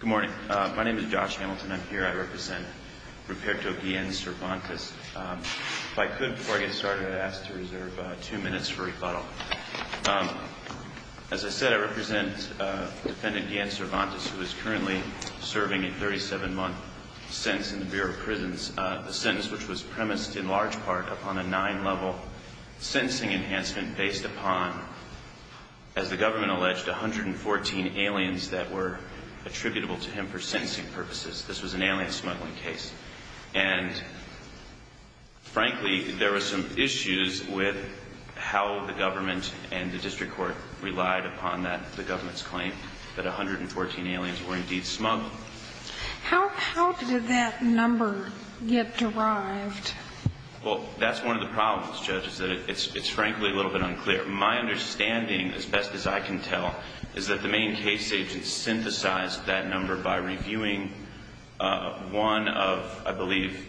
Good morning. My name is Josh Hamilton. I'm here. I represent Ruperto Guillen-Cervantes. If I could, before I get started, I'd ask to reserve two minutes for rebuttal. As I said, I represent Defendant Guillen-Cervantes, who is currently serving a 37-month sentence in the Bureau of Prisons, a sentence which was premised in large part upon a nine-level sentencing enhancement based upon, as the government alleged, 114 aliens that were attributable to him for sentencing purposes. This was an alien smuggling case. And frankly, there were some issues with how the government and the district court relied upon that, the government's claim, that 114 aliens were indeed smuggled. How did that number get derived? Well, that's one of the problems, Judge, is that it's frankly a little bit unclear. My understanding, as best as I can tell, is that the main case agents synthesized that number by reviewing one of, I believe,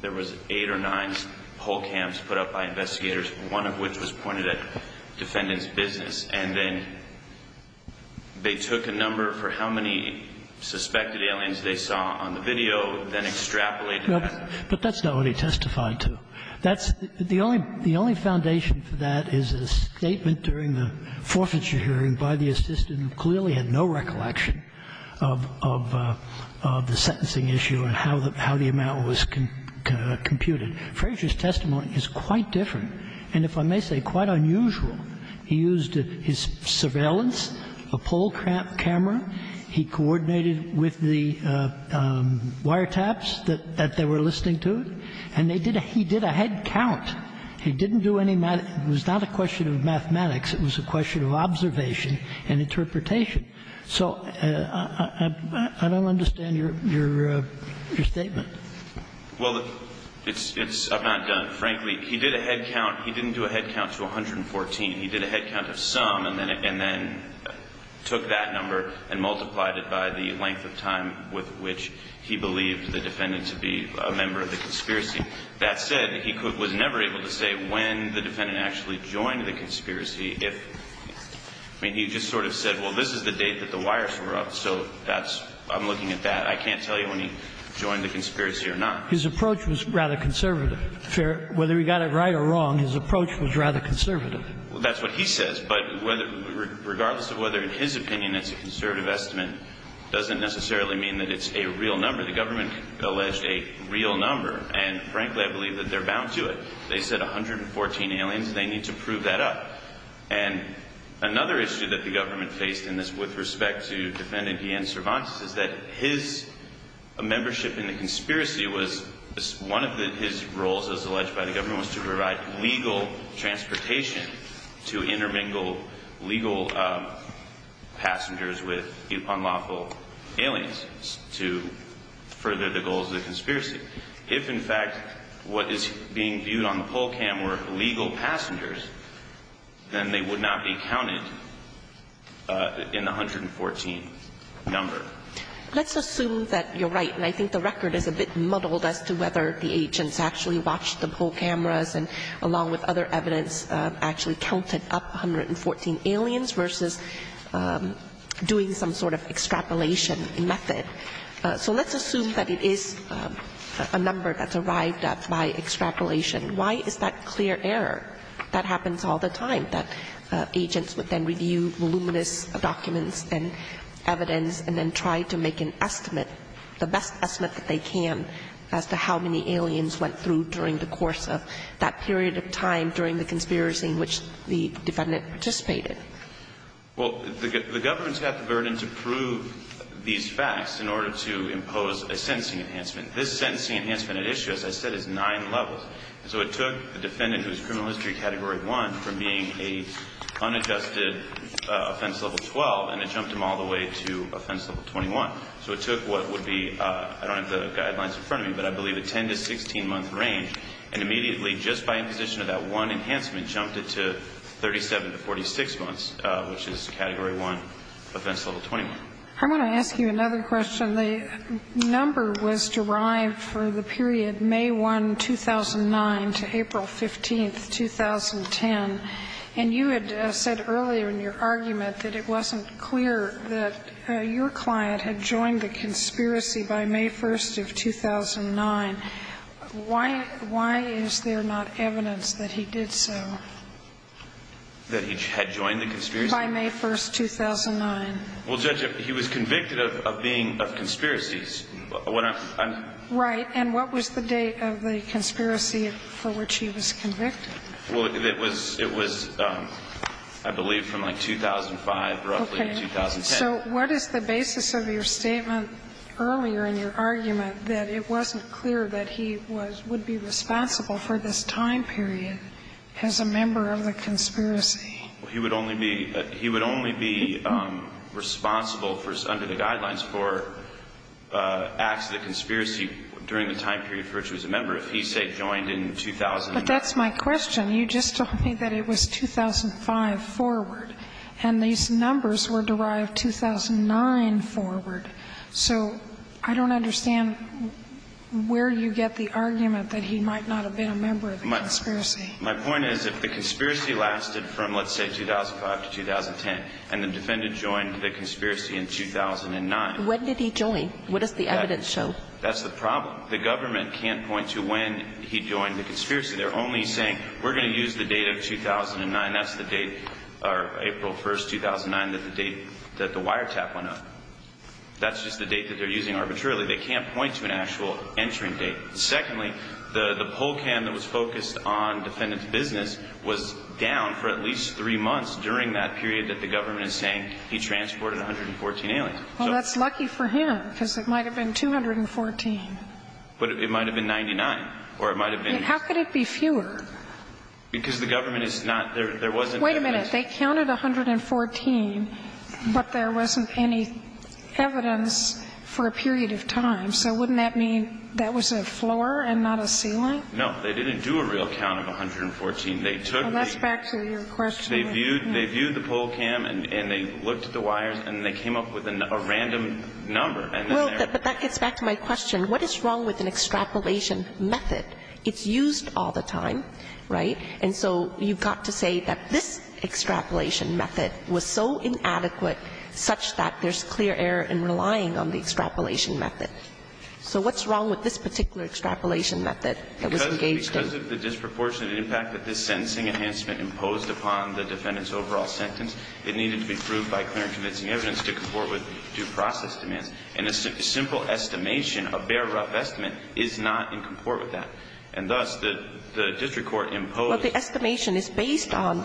there was eight or nine poll camps put up by investigators, one of which was pointed at Defendant's business, and then they took a number for how many suspected aliens they saw on the video, then extrapolated But that's not what he testified to. The only foundation for that is a statement during the forfeiture hearing by the assistant who clearly had no recollection of the sentencing issue and how the amount was computed. Frazier's testimony is quite different and, if I may say, quite unusual. He used his surveillance, a poll camera. He coordinated with the wiretaps that they were listening to, and they did a he did a head count. He didn't do any math. It was not a question of mathematics. It was a question of observation and interpretation. So I don't understand your statement. Well, I've not done it. Frankly, he did a head count. He didn't do a head count to 114. He did a head count of some and then took that number and multiplied it by the length of time with which he believed the defendant to be a member of the conspiracy. That said, he was never able to say when the defendant actually joined the conspiracy if he just sort of said, well, this is the date that the wires were up, so I'm looking at that. I can't tell you when he joined the conspiracy or not. His approach was rather conservative. Whether he got it right or wrong, his approach was rather conservative. Well, that's what he says. But regardless of whether, in his opinion, it's a conservative estimate doesn't necessarily mean that it's a real number. The government alleged a real number. And frankly, I believe that they're bound to it. They said 114 aliens. They need to prove that up. And another issue that the government faced in this with respect to Defendant Ian Cervantes is that his membership in the conspiracy was one of his roles, as alleged by the government, was to provide legal transportation to intermingle legal passengers with unlawful aliens to further the goals of the conspiracy. If, in fact, what is being viewed on the poll cam were legal passengers, then they would not be counted in the 114 number. Let's assume that you're right, and I think the record is a bit muddled as to whether the agents actually watched the poll cameras and, along with other evidence, actually counted up 114 aliens versus doing some sort of extrapolation method. So let's assume that it is a number that's arrived at by extrapolation. Why is that clear error? That happens all the time, that agents would then review voluminous documents and evidence and then try to make an estimate, the best estimate that they can, as to how many aliens went through during the course of that period of time during the conspiracy in which the Defendant participated. Well, the government's had the burden to prove these facts in order to impose a sentencing enhancement. This sentencing enhancement issue, as I said, is nine levels. So it took the Defendant, who is criminal history category 1, from being an unadjusted offense level 12, and it jumped him all the way to offense level 21. So it took what would be, I don't have the guidelines in front of me, but I believe a 10 to 16-month range, and immediately, just by imposition of that one enhancement, jumped it to 37 to 46 months, which is category 1, offense level 21. I want to ask you another question. The number was derived for the period May 1, 2009, to April 15, 2010, and you had said earlier in your argument that it wasn't clear that your client had joined the conspiracy by May 1st of 2009. Why is there not evidence that he did so? That he had joined the conspiracy? By May 1st, 2009. Well, Judge, he was convicted of being of conspiracies. Right. And what was the date of the conspiracy for which he was convicted? Well, it was, I believe, from like 2005, roughly, to 2010. Okay. So what is the basis of your statement earlier in your argument that it wasn't clear that he would be responsible for this time period as a member of the conspiracy? He would only be responsible under the guidelines for acts of the conspiracy during the time period for which he was a member if he, say, joined in 2009. But that's my question. You just told me that it was 2005 forward. And these numbers were derived 2009 forward. So I don't understand where you get the argument that he might not have been a member of the conspiracy. My point is if the conspiracy lasted from, let's say, 2005 to 2010, and the defendant joined the conspiracy in 2009. When did he join? What does the evidence show? That's the problem. The government can't point to when he joined the conspiracy. They're only saying we're going to use the date of 2009. That's the date, April 1st, 2009, that the wiretap went up. That's just the date that they're using arbitrarily. They can't point to an actual entering date. Secondly, the poll cam that was focused on the defendant's business was down for at least three months during that period that the government is saying he transported 114 aliens. Well, that's lucky for him, because it might have been 214. But it might have been 99, or it might have been. How could it be fewer? Because the government is not. There wasn't evidence. Wait a minute. They counted 114, but there wasn't any evidence for a period of time. So wouldn't that mean that was a floor and not a ceiling? No. They didn't do a real count of 114. They took the ---- Well, that's back to your question. They viewed the poll cam, and they looked at the wires, and they came up with a random number. Well, but that gets back to my question. What is wrong with an extrapolation method? It's used all the time, right? And so you've got to say that this extrapolation method was so inadequate such that there's clear error in relying on the extrapolation method. So what's wrong with this particular extrapolation method that was engaged in? Because of the disproportionate impact that this sentencing enhancement imposed upon the defendant's overall sentence, it needed to be proved by clear and convincing evidence to comport with due process demands. And a simple estimation, a bare rough estimate, is not in comport with that. And thus, the district court imposed ---- Well, the estimation is based on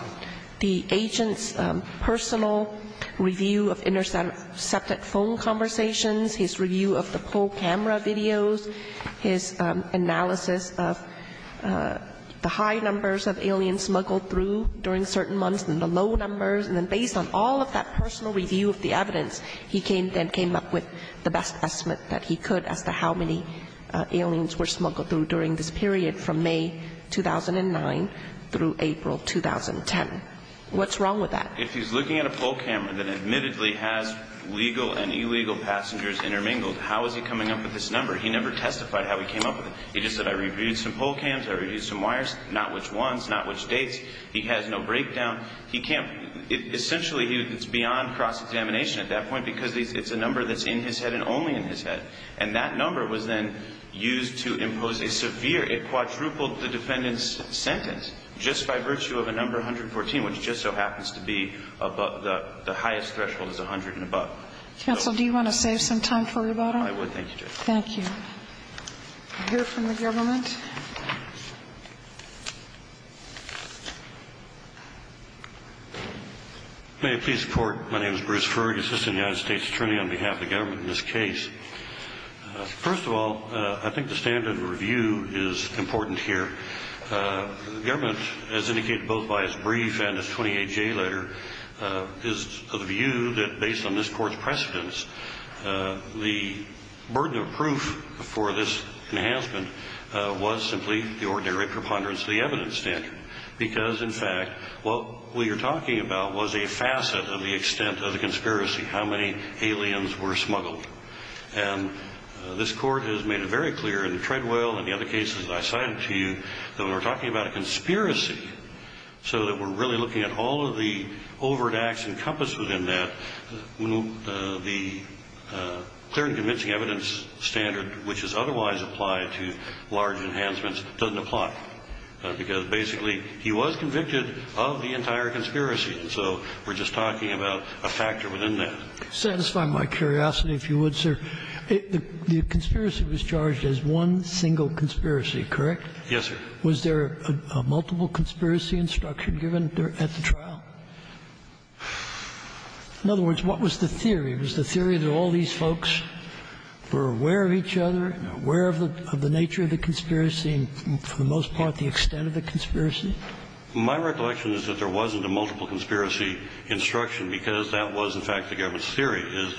the agent's personal review of intercepted phone conversations, his review of the poll camera videos, his analysis of the high numbers of aliens smuggled through during certain months and the low numbers. And then based on all of that personal review of the evidence, he came up with the best estimate that he could as to how many aliens were smuggled through during this period from May 2009 through April 2010. What's wrong with that? And that admittedly has legal and illegal passengers intermingled. How is he coming up with this number? He never testified how he came up with it. He just said, I reviewed some poll cams, I reviewed some wires, not which ones, not which dates. He has no breakdown. He can't ---- Essentially, it's beyond cross-examination at that point because it's a number that's in his head and only in his head. And that number was then used to impose a severe ---- it quadrupled the defendant's sentence just by virtue of a number 114, which just so happens to be the highest threshold, is 100 and above. Counsel, do you want to save some time for rebuttal? I would. Thank you, Judge. Thank you. We'll hear from the government. May I please report? My name is Bruce Frueg, Assistant United States Attorney on behalf of the government in this case. First of all, I think the standard review is important here. The government, as indicated both by its brief and its 28-J letter, is of the view that based on this Court's precedence, the burden of proof for this enhancement was simply the ordinary preponderance of the evidence standard because, in fact, what we are talking about was a facet of the extent of the conspiracy, how many aliens were smuggled. And this Court has made it very clear in the Treadwell and the other cases I cited to you that when we're talking about a conspiracy so that we're really looking at all of the overt acts encompassed within that, the clear and convincing evidence standard, which is otherwise applied to large enhancements, doesn't apply, because basically he was convicted of the entire conspiracy. And so we're just talking about a factor within that. Satisfy my curiosity, if you would, sir. The conspiracy was charged as one single conspiracy, correct? Yes, sir. Was there a multiple conspiracy instruction given at the trial? In other words, what was the theory? Was the theory that all these folks were aware of each other, aware of the nature of the conspiracy, and for the most part the extent of the conspiracy? My recollection is that there wasn't a multiple conspiracy instruction because that was, in fact, the government's theory, is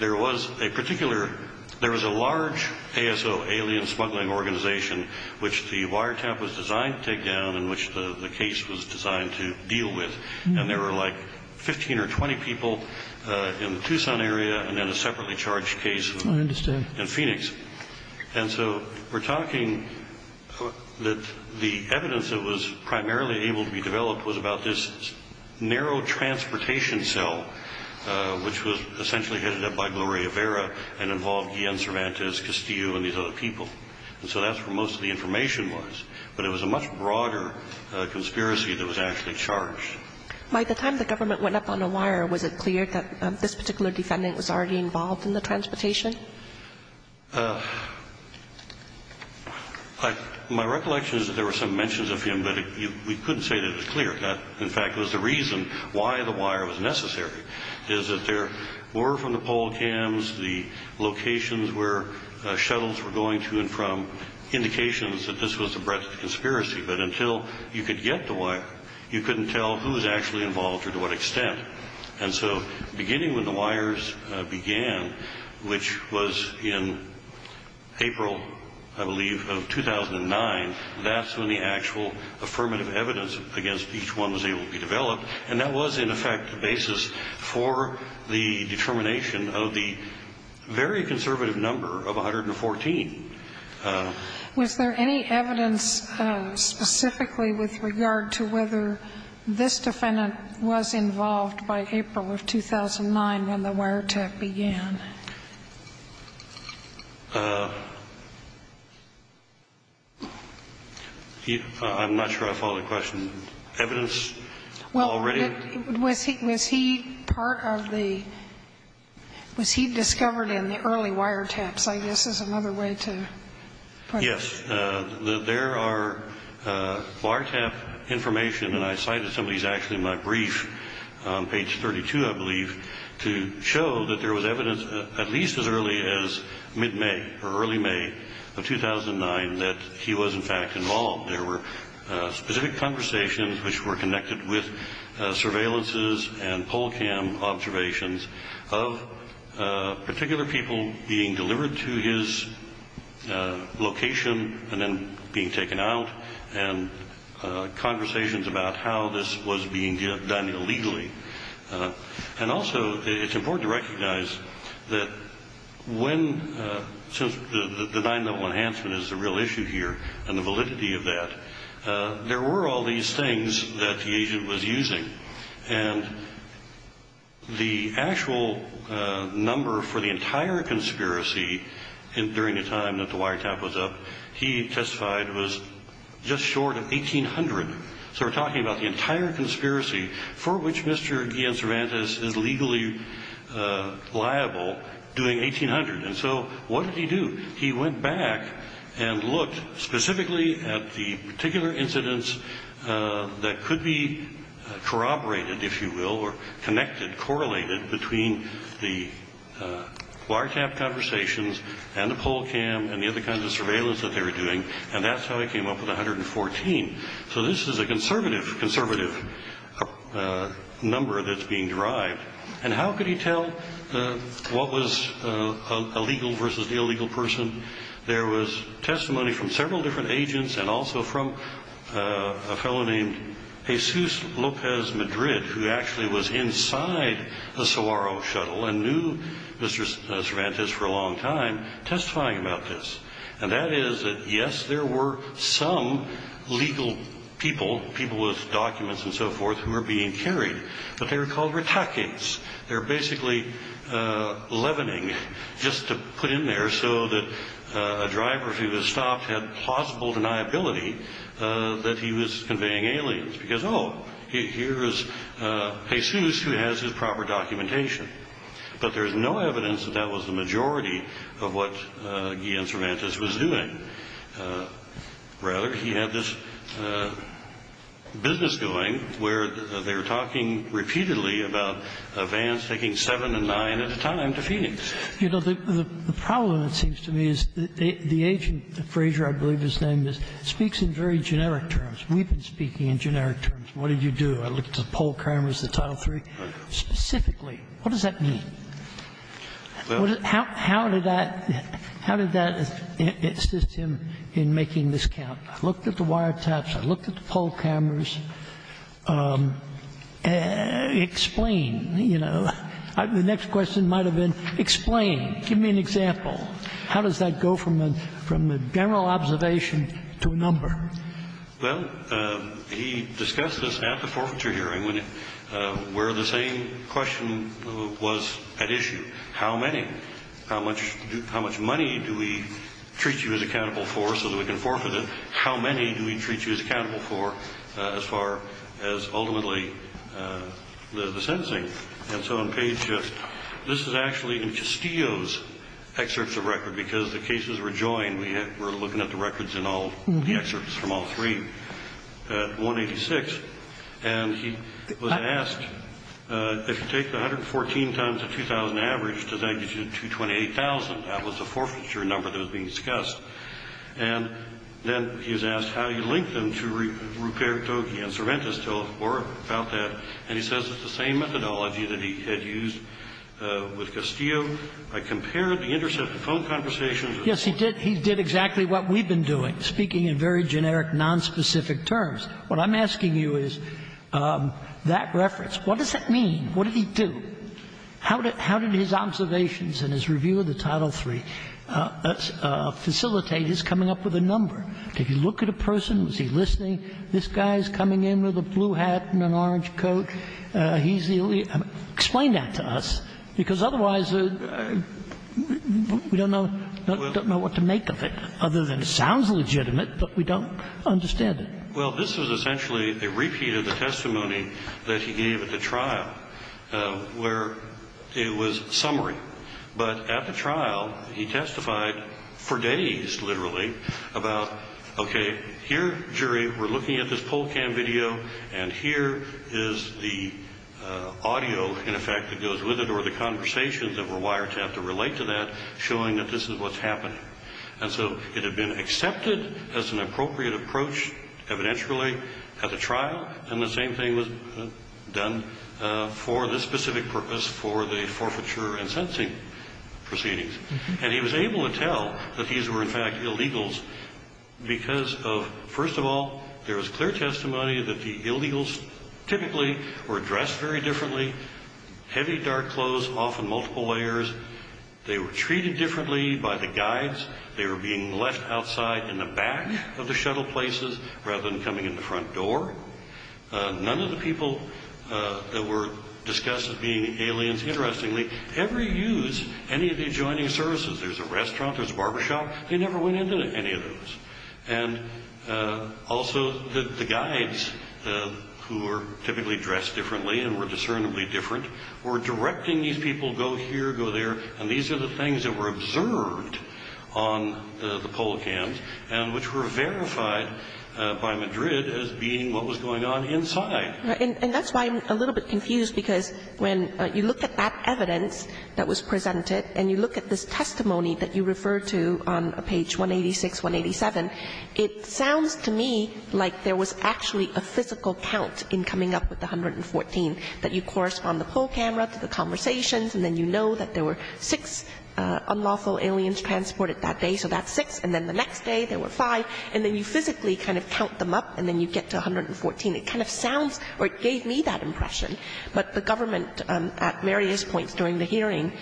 there was a particular – there was a civilian smuggling organization which the wiretap was designed to take down and which the case was designed to deal with. And there were like 15 or 20 people in the Tucson area and then a separately charged case in Phoenix. I understand. And so we're talking that the evidence that was primarily able to be developed was about this narrow transportation cell, which was essentially headed up by And so that's where most of the information was. But it was a much broader conspiracy that was actually charged. By the time the government went up on the wire, was it clear that this particular defendant was already involved in the transportation? My recollection is that there were some mentions of him, but we couldn't say that it was clear. That, in fact, was the reason why the wire was necessary, is that there were from indications that this was the breadth of the conspiracy. But until you could get the wire, you couldn't tell who was actually involved or to what extent. And so beginning when the wires began, which was in April, I believe, of 2009, that's when the actual affirmative evidence against each one was able to be developed. And that was, in effect, the basis for the determination of the very conservative number of 114. Was there any evidence specifically with regard to whether this defendant was involved by April of 2009 when the wiretap began? I'm not sure I follow the question. Evidence already? Was he part of the – was he discovered in the early wiretaps, I guess, is another way to put it. Yes. There are wiretap information, and I cited some of these actually in my brief on page 32, I believe, to show that there was evidence at least as early as mid-May or early May of 2009 that he was, in fact, involved. There were specific conversations, which were connected with surveillances and poll cam observations of particular people being delivered to his location and then being taken out, and conversations about how this was being done illegally. And also, it's important to recognize that when – since the 9-level enhancement is the real issue here and the validity of that, there were all these things that the agent was using, and the actual number for the entire conspiracy during the time that the wiretap was up, he testified, was just short of 1,800. So we're talking about the entire conspiracy for which Mr. Guillen-Cervantes is legally liable doing 1,800. And so what did he do? He went back and looked specifically at the particular incidents that could be corroborated, if you will, or connected, correlated between the wiretap conversations and the poll cam and the other kinds of surveillance that they were doing, and that's how he came up with 114. So this is a conservative number that's being derived. And how could he tell what was a legal versus the illegal person? There was testimony from several different agents and also from a fellow named Jesus Lopez Madrid, who actually was inside the Saguaro shuttle and knew Mr. Cervantes for a long time, testifying about this. And that is that, yes, there were some legal people, people with documents and so forth, who were being carried, but they were called retakings. They were basically leavening, just to put in there so that a driver, if he was stopped, had plausible deniability that he was conveying aliens, because, oh, here is Jesus who has his proper documentation. But there's no evidence that that was the majority of what Guillen-Cervantes was doing. And, rather, he had this business going where they were talking repeatedly about vans taking seven and nine at a time to Phoenix. You know, the problem, it seems to me, is the agent, Frazier, I believe his name is, speaks in very generic terms. We've been speaking in generic terms. What did you do? I looked at the poll cameras, the Title III. Specifically, what does that mean? How did that assist him in making this count? I looked at the wiretaps. I looked at the poll cameras. Explain. You know, the next question might have been, explain. Give me an example. How does that go from a general observation to a number? Well, he discussed this at the forfeiture hearing where the same question was at issue. How many? How much money do we treat you as accountable for so that we can forfeit it? How many do we treat you as accountable for as far as ultimately the sentencing? And so on page just, this is actually in Castillo's excerpts of record, because the cases were joined. We're looking at the records in all the excerpts from all three, at 186. And he was asked, if you take the 114 times the 2,000 average, does that get you to 228,000? That was the forfeiture number that was being discussed. And then he was asked how you link them to Rupert Tokey and Cervantes, tell us more about that. And he says it's the same methodology that he had used with Castillo. I compared the intercepted phone conversations. Yes, he did. He did exactly what we've been doing, speaking in very generic, nonspecific terms. What I'm asking you is that reference. What does that mean? What did he do? How did his observations and his review of the Title III facilitate his coming up with a number? Did he look at a person? Was he listening? This guy is coming in with a blue hat and an orange coat. He's the only one. Explain that to us, because otherwise we don't know. We don't know what to make of it other than it sounds legitimate, but we don't understand it. Well, this was essentially a repeat of the testimony that he gave at the trial, where it was summary. But at the trial, he testified for days, literally, about, okay, here, jury, we're looking at this poll cam video, and here is the audio, in effect, that goes with it, or the conversations that were wiretapped to relate to that, showing that this is what's happening. And so it had been accepted as an appropriate approach, evidentially, at the trial, and the same thing was done for the specific purpose for the forfeiture and sentencing proceedings. And he was able to tell that these were, in fact, illegals because of, first of all, there was clear testimony that the illegals typically were dressed very differently, heavy, dark clothes, often multiple layers. They were treated differently by the guides. They were being left outside in the back of the shuttle places rather than coming in the front door. None of the people that were discussed as being aliens, interestingly, ever used any of the adjoining services. There's a restaurant, there's a barbershop. They never went into any of those. And also the guides, who were typically dressed differently and were discernibly different, were directing these people, go here, go there, and these are the things that were observed on the Polo cans and which were verified by Madrid as being what was going on inside. And that's why I'm a little bit confused, because when you look at that evidence that was presented and you look at this testimony that you refer to on page 186, 187, it sounds to me like there was actually a physical count in coming up with the 114, that you correspond the pole camera to the conversations and then you know that there were six unlawful aliens transported that day, so that's six, and then the next day there were five, and then you physically kind of count them up and then you get to 114. It kind of sounds or it gave me that impression. But the government at various points during the hearing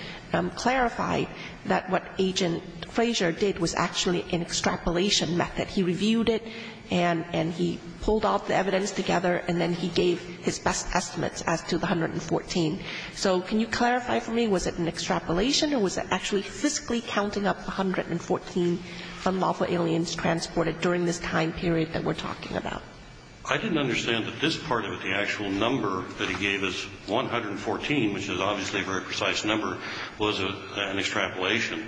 clarified that what Agent Frazier did was actually an extrapolation method. He reviewed it and he pulled all the evidence together and then he gave his best estimates as to the 114. So can you clarify for me, was it an extrapolation or was it actually physically counting up the 114 unlawful aliens transported during this time period that we're talking about? I didn't understand that this part of it, the actual number that he gave us, 114, which is obviously a very precise number, was an extrapolation.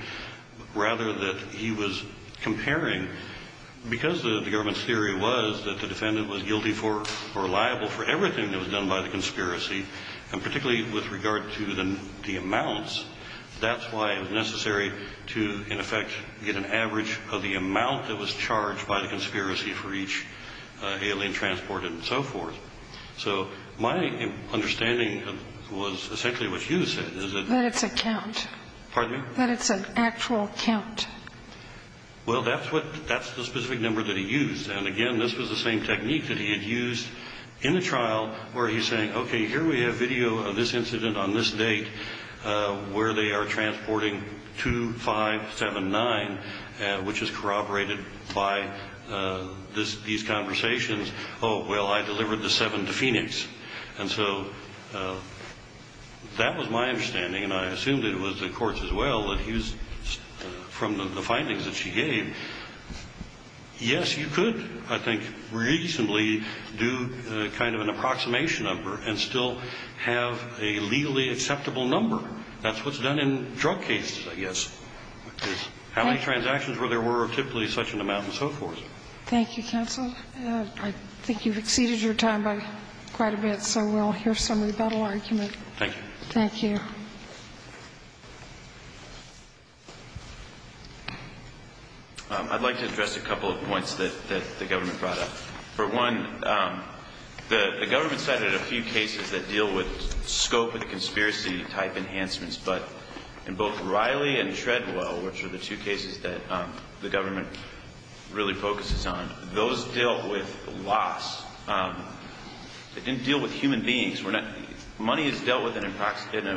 Rather that he was comparing, because the government's theory was that the defendant was guilty for or liable for everything that was done by the conspiracy, and particularly with regard to the amounts, that's why it was necessary to, in effect, get an average of the amount that was charged by the conspiracy for each alien transported and so forth. So my understanding was essentially what you said. That it's a count. Pardon me? That it's an actual count. Well, that's the specific number that he used. And, again, this was the same technique that he had used in the trial where he's saying, okay, here we have video of this incident on this date where they are transporting 2579, which is corroborated by these conversations. Oh, well, I delivered the 7 to Phoenix. And so that was my understanding, and I assumed it was the court's as well, that he was, from the findings that she gave, yes, you could, I think, reasonably do kind of an approximation of her and still have a legally acceptable number. That's what's done in drug cases, I guess. How many transactions were there were of typically such an amount and so forth. Thank you, counsel. I think you've exceeded your time by quite a bit, so we'll hear some rebuttal argument. Thank you. Thank you. I'd like to address a couple of points that the government brought up. For one, the government cited a few cases that deal with scope of the conspiracy type enhancements, but in both Riley and Treadwell, which are the two cases that the government really focuses on, those dealt with loss. They didn't deal with human beings. Money is dealt with in an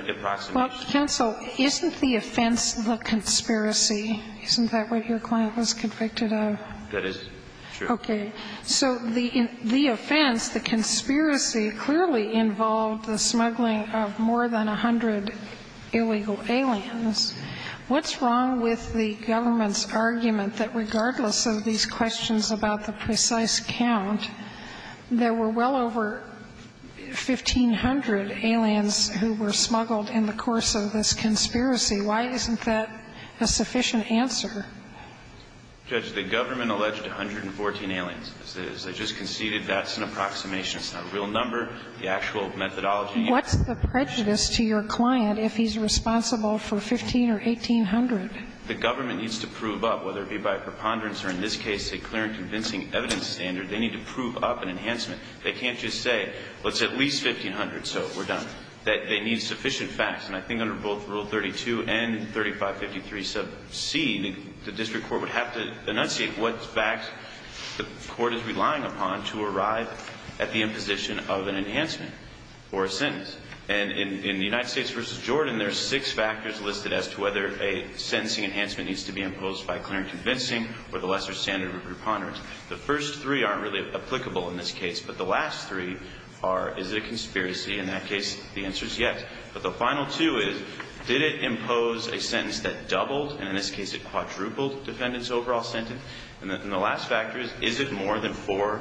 approximation. Counsel, isn't the offense the conspiracy? Isn't that what your client was convicted of? That is true. Okay. So the offense, the conspiracy, clearly involved the smuggling of more than 100 illegal aliens. What's wrong with the government's argument that regardless of these questions about the precise count, there were well over 1,500 aliens who were smuggled in the course of this conspiracy? Why isn't that a sufficient answer? Judge, the government alleged 114 aliens. As I just conceded, that's an approximation. It's not a real number. The actual methodology is not a real number. What's the prejudice to your client if he's responsible for 1,500 or 1,800? The government needs to prove up, whether it be by preponderance or, in this case, a clear and convincing evidence standard. They need to prove up an enhancement. They can't just say, well, it's at least 1,500, so we're done. They need sufficient facts. And I think under both Rule 32 and 3553c, the district court would have to enunciate what facts the court is relying upon to arrive at the imposition of an enhancement or a sentence. And in the United States v. Jordan, there are six factors listed as to whether a sentencing enhancement needs to be imposed by clear and convincing or the lesser standard of preponderance. The first three aren't really applicable in this case. But the last three are, is it a conspiracy? In that case, the answer is yes. But the final two is, did it impose a sentence that doubled, and in this case it quadrupled, the defendant's overall sentence? And the last factor is, is it more than four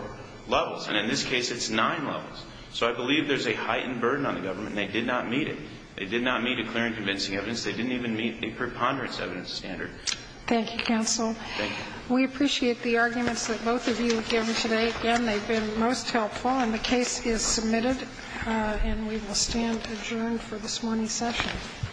levels? And in this case, it's nine levels. So I believe there's a heightened burden on the government, and they did not meet it. They did not meet a clear and convincing evidence. They didn't even meet a preponderance evidence standard. Thank you, counsel. Thank you. We appreciate the arguments that both of you have given today. Again, they've been most helpful. And the case is submitted. And we will stand adjourned for this morning's session.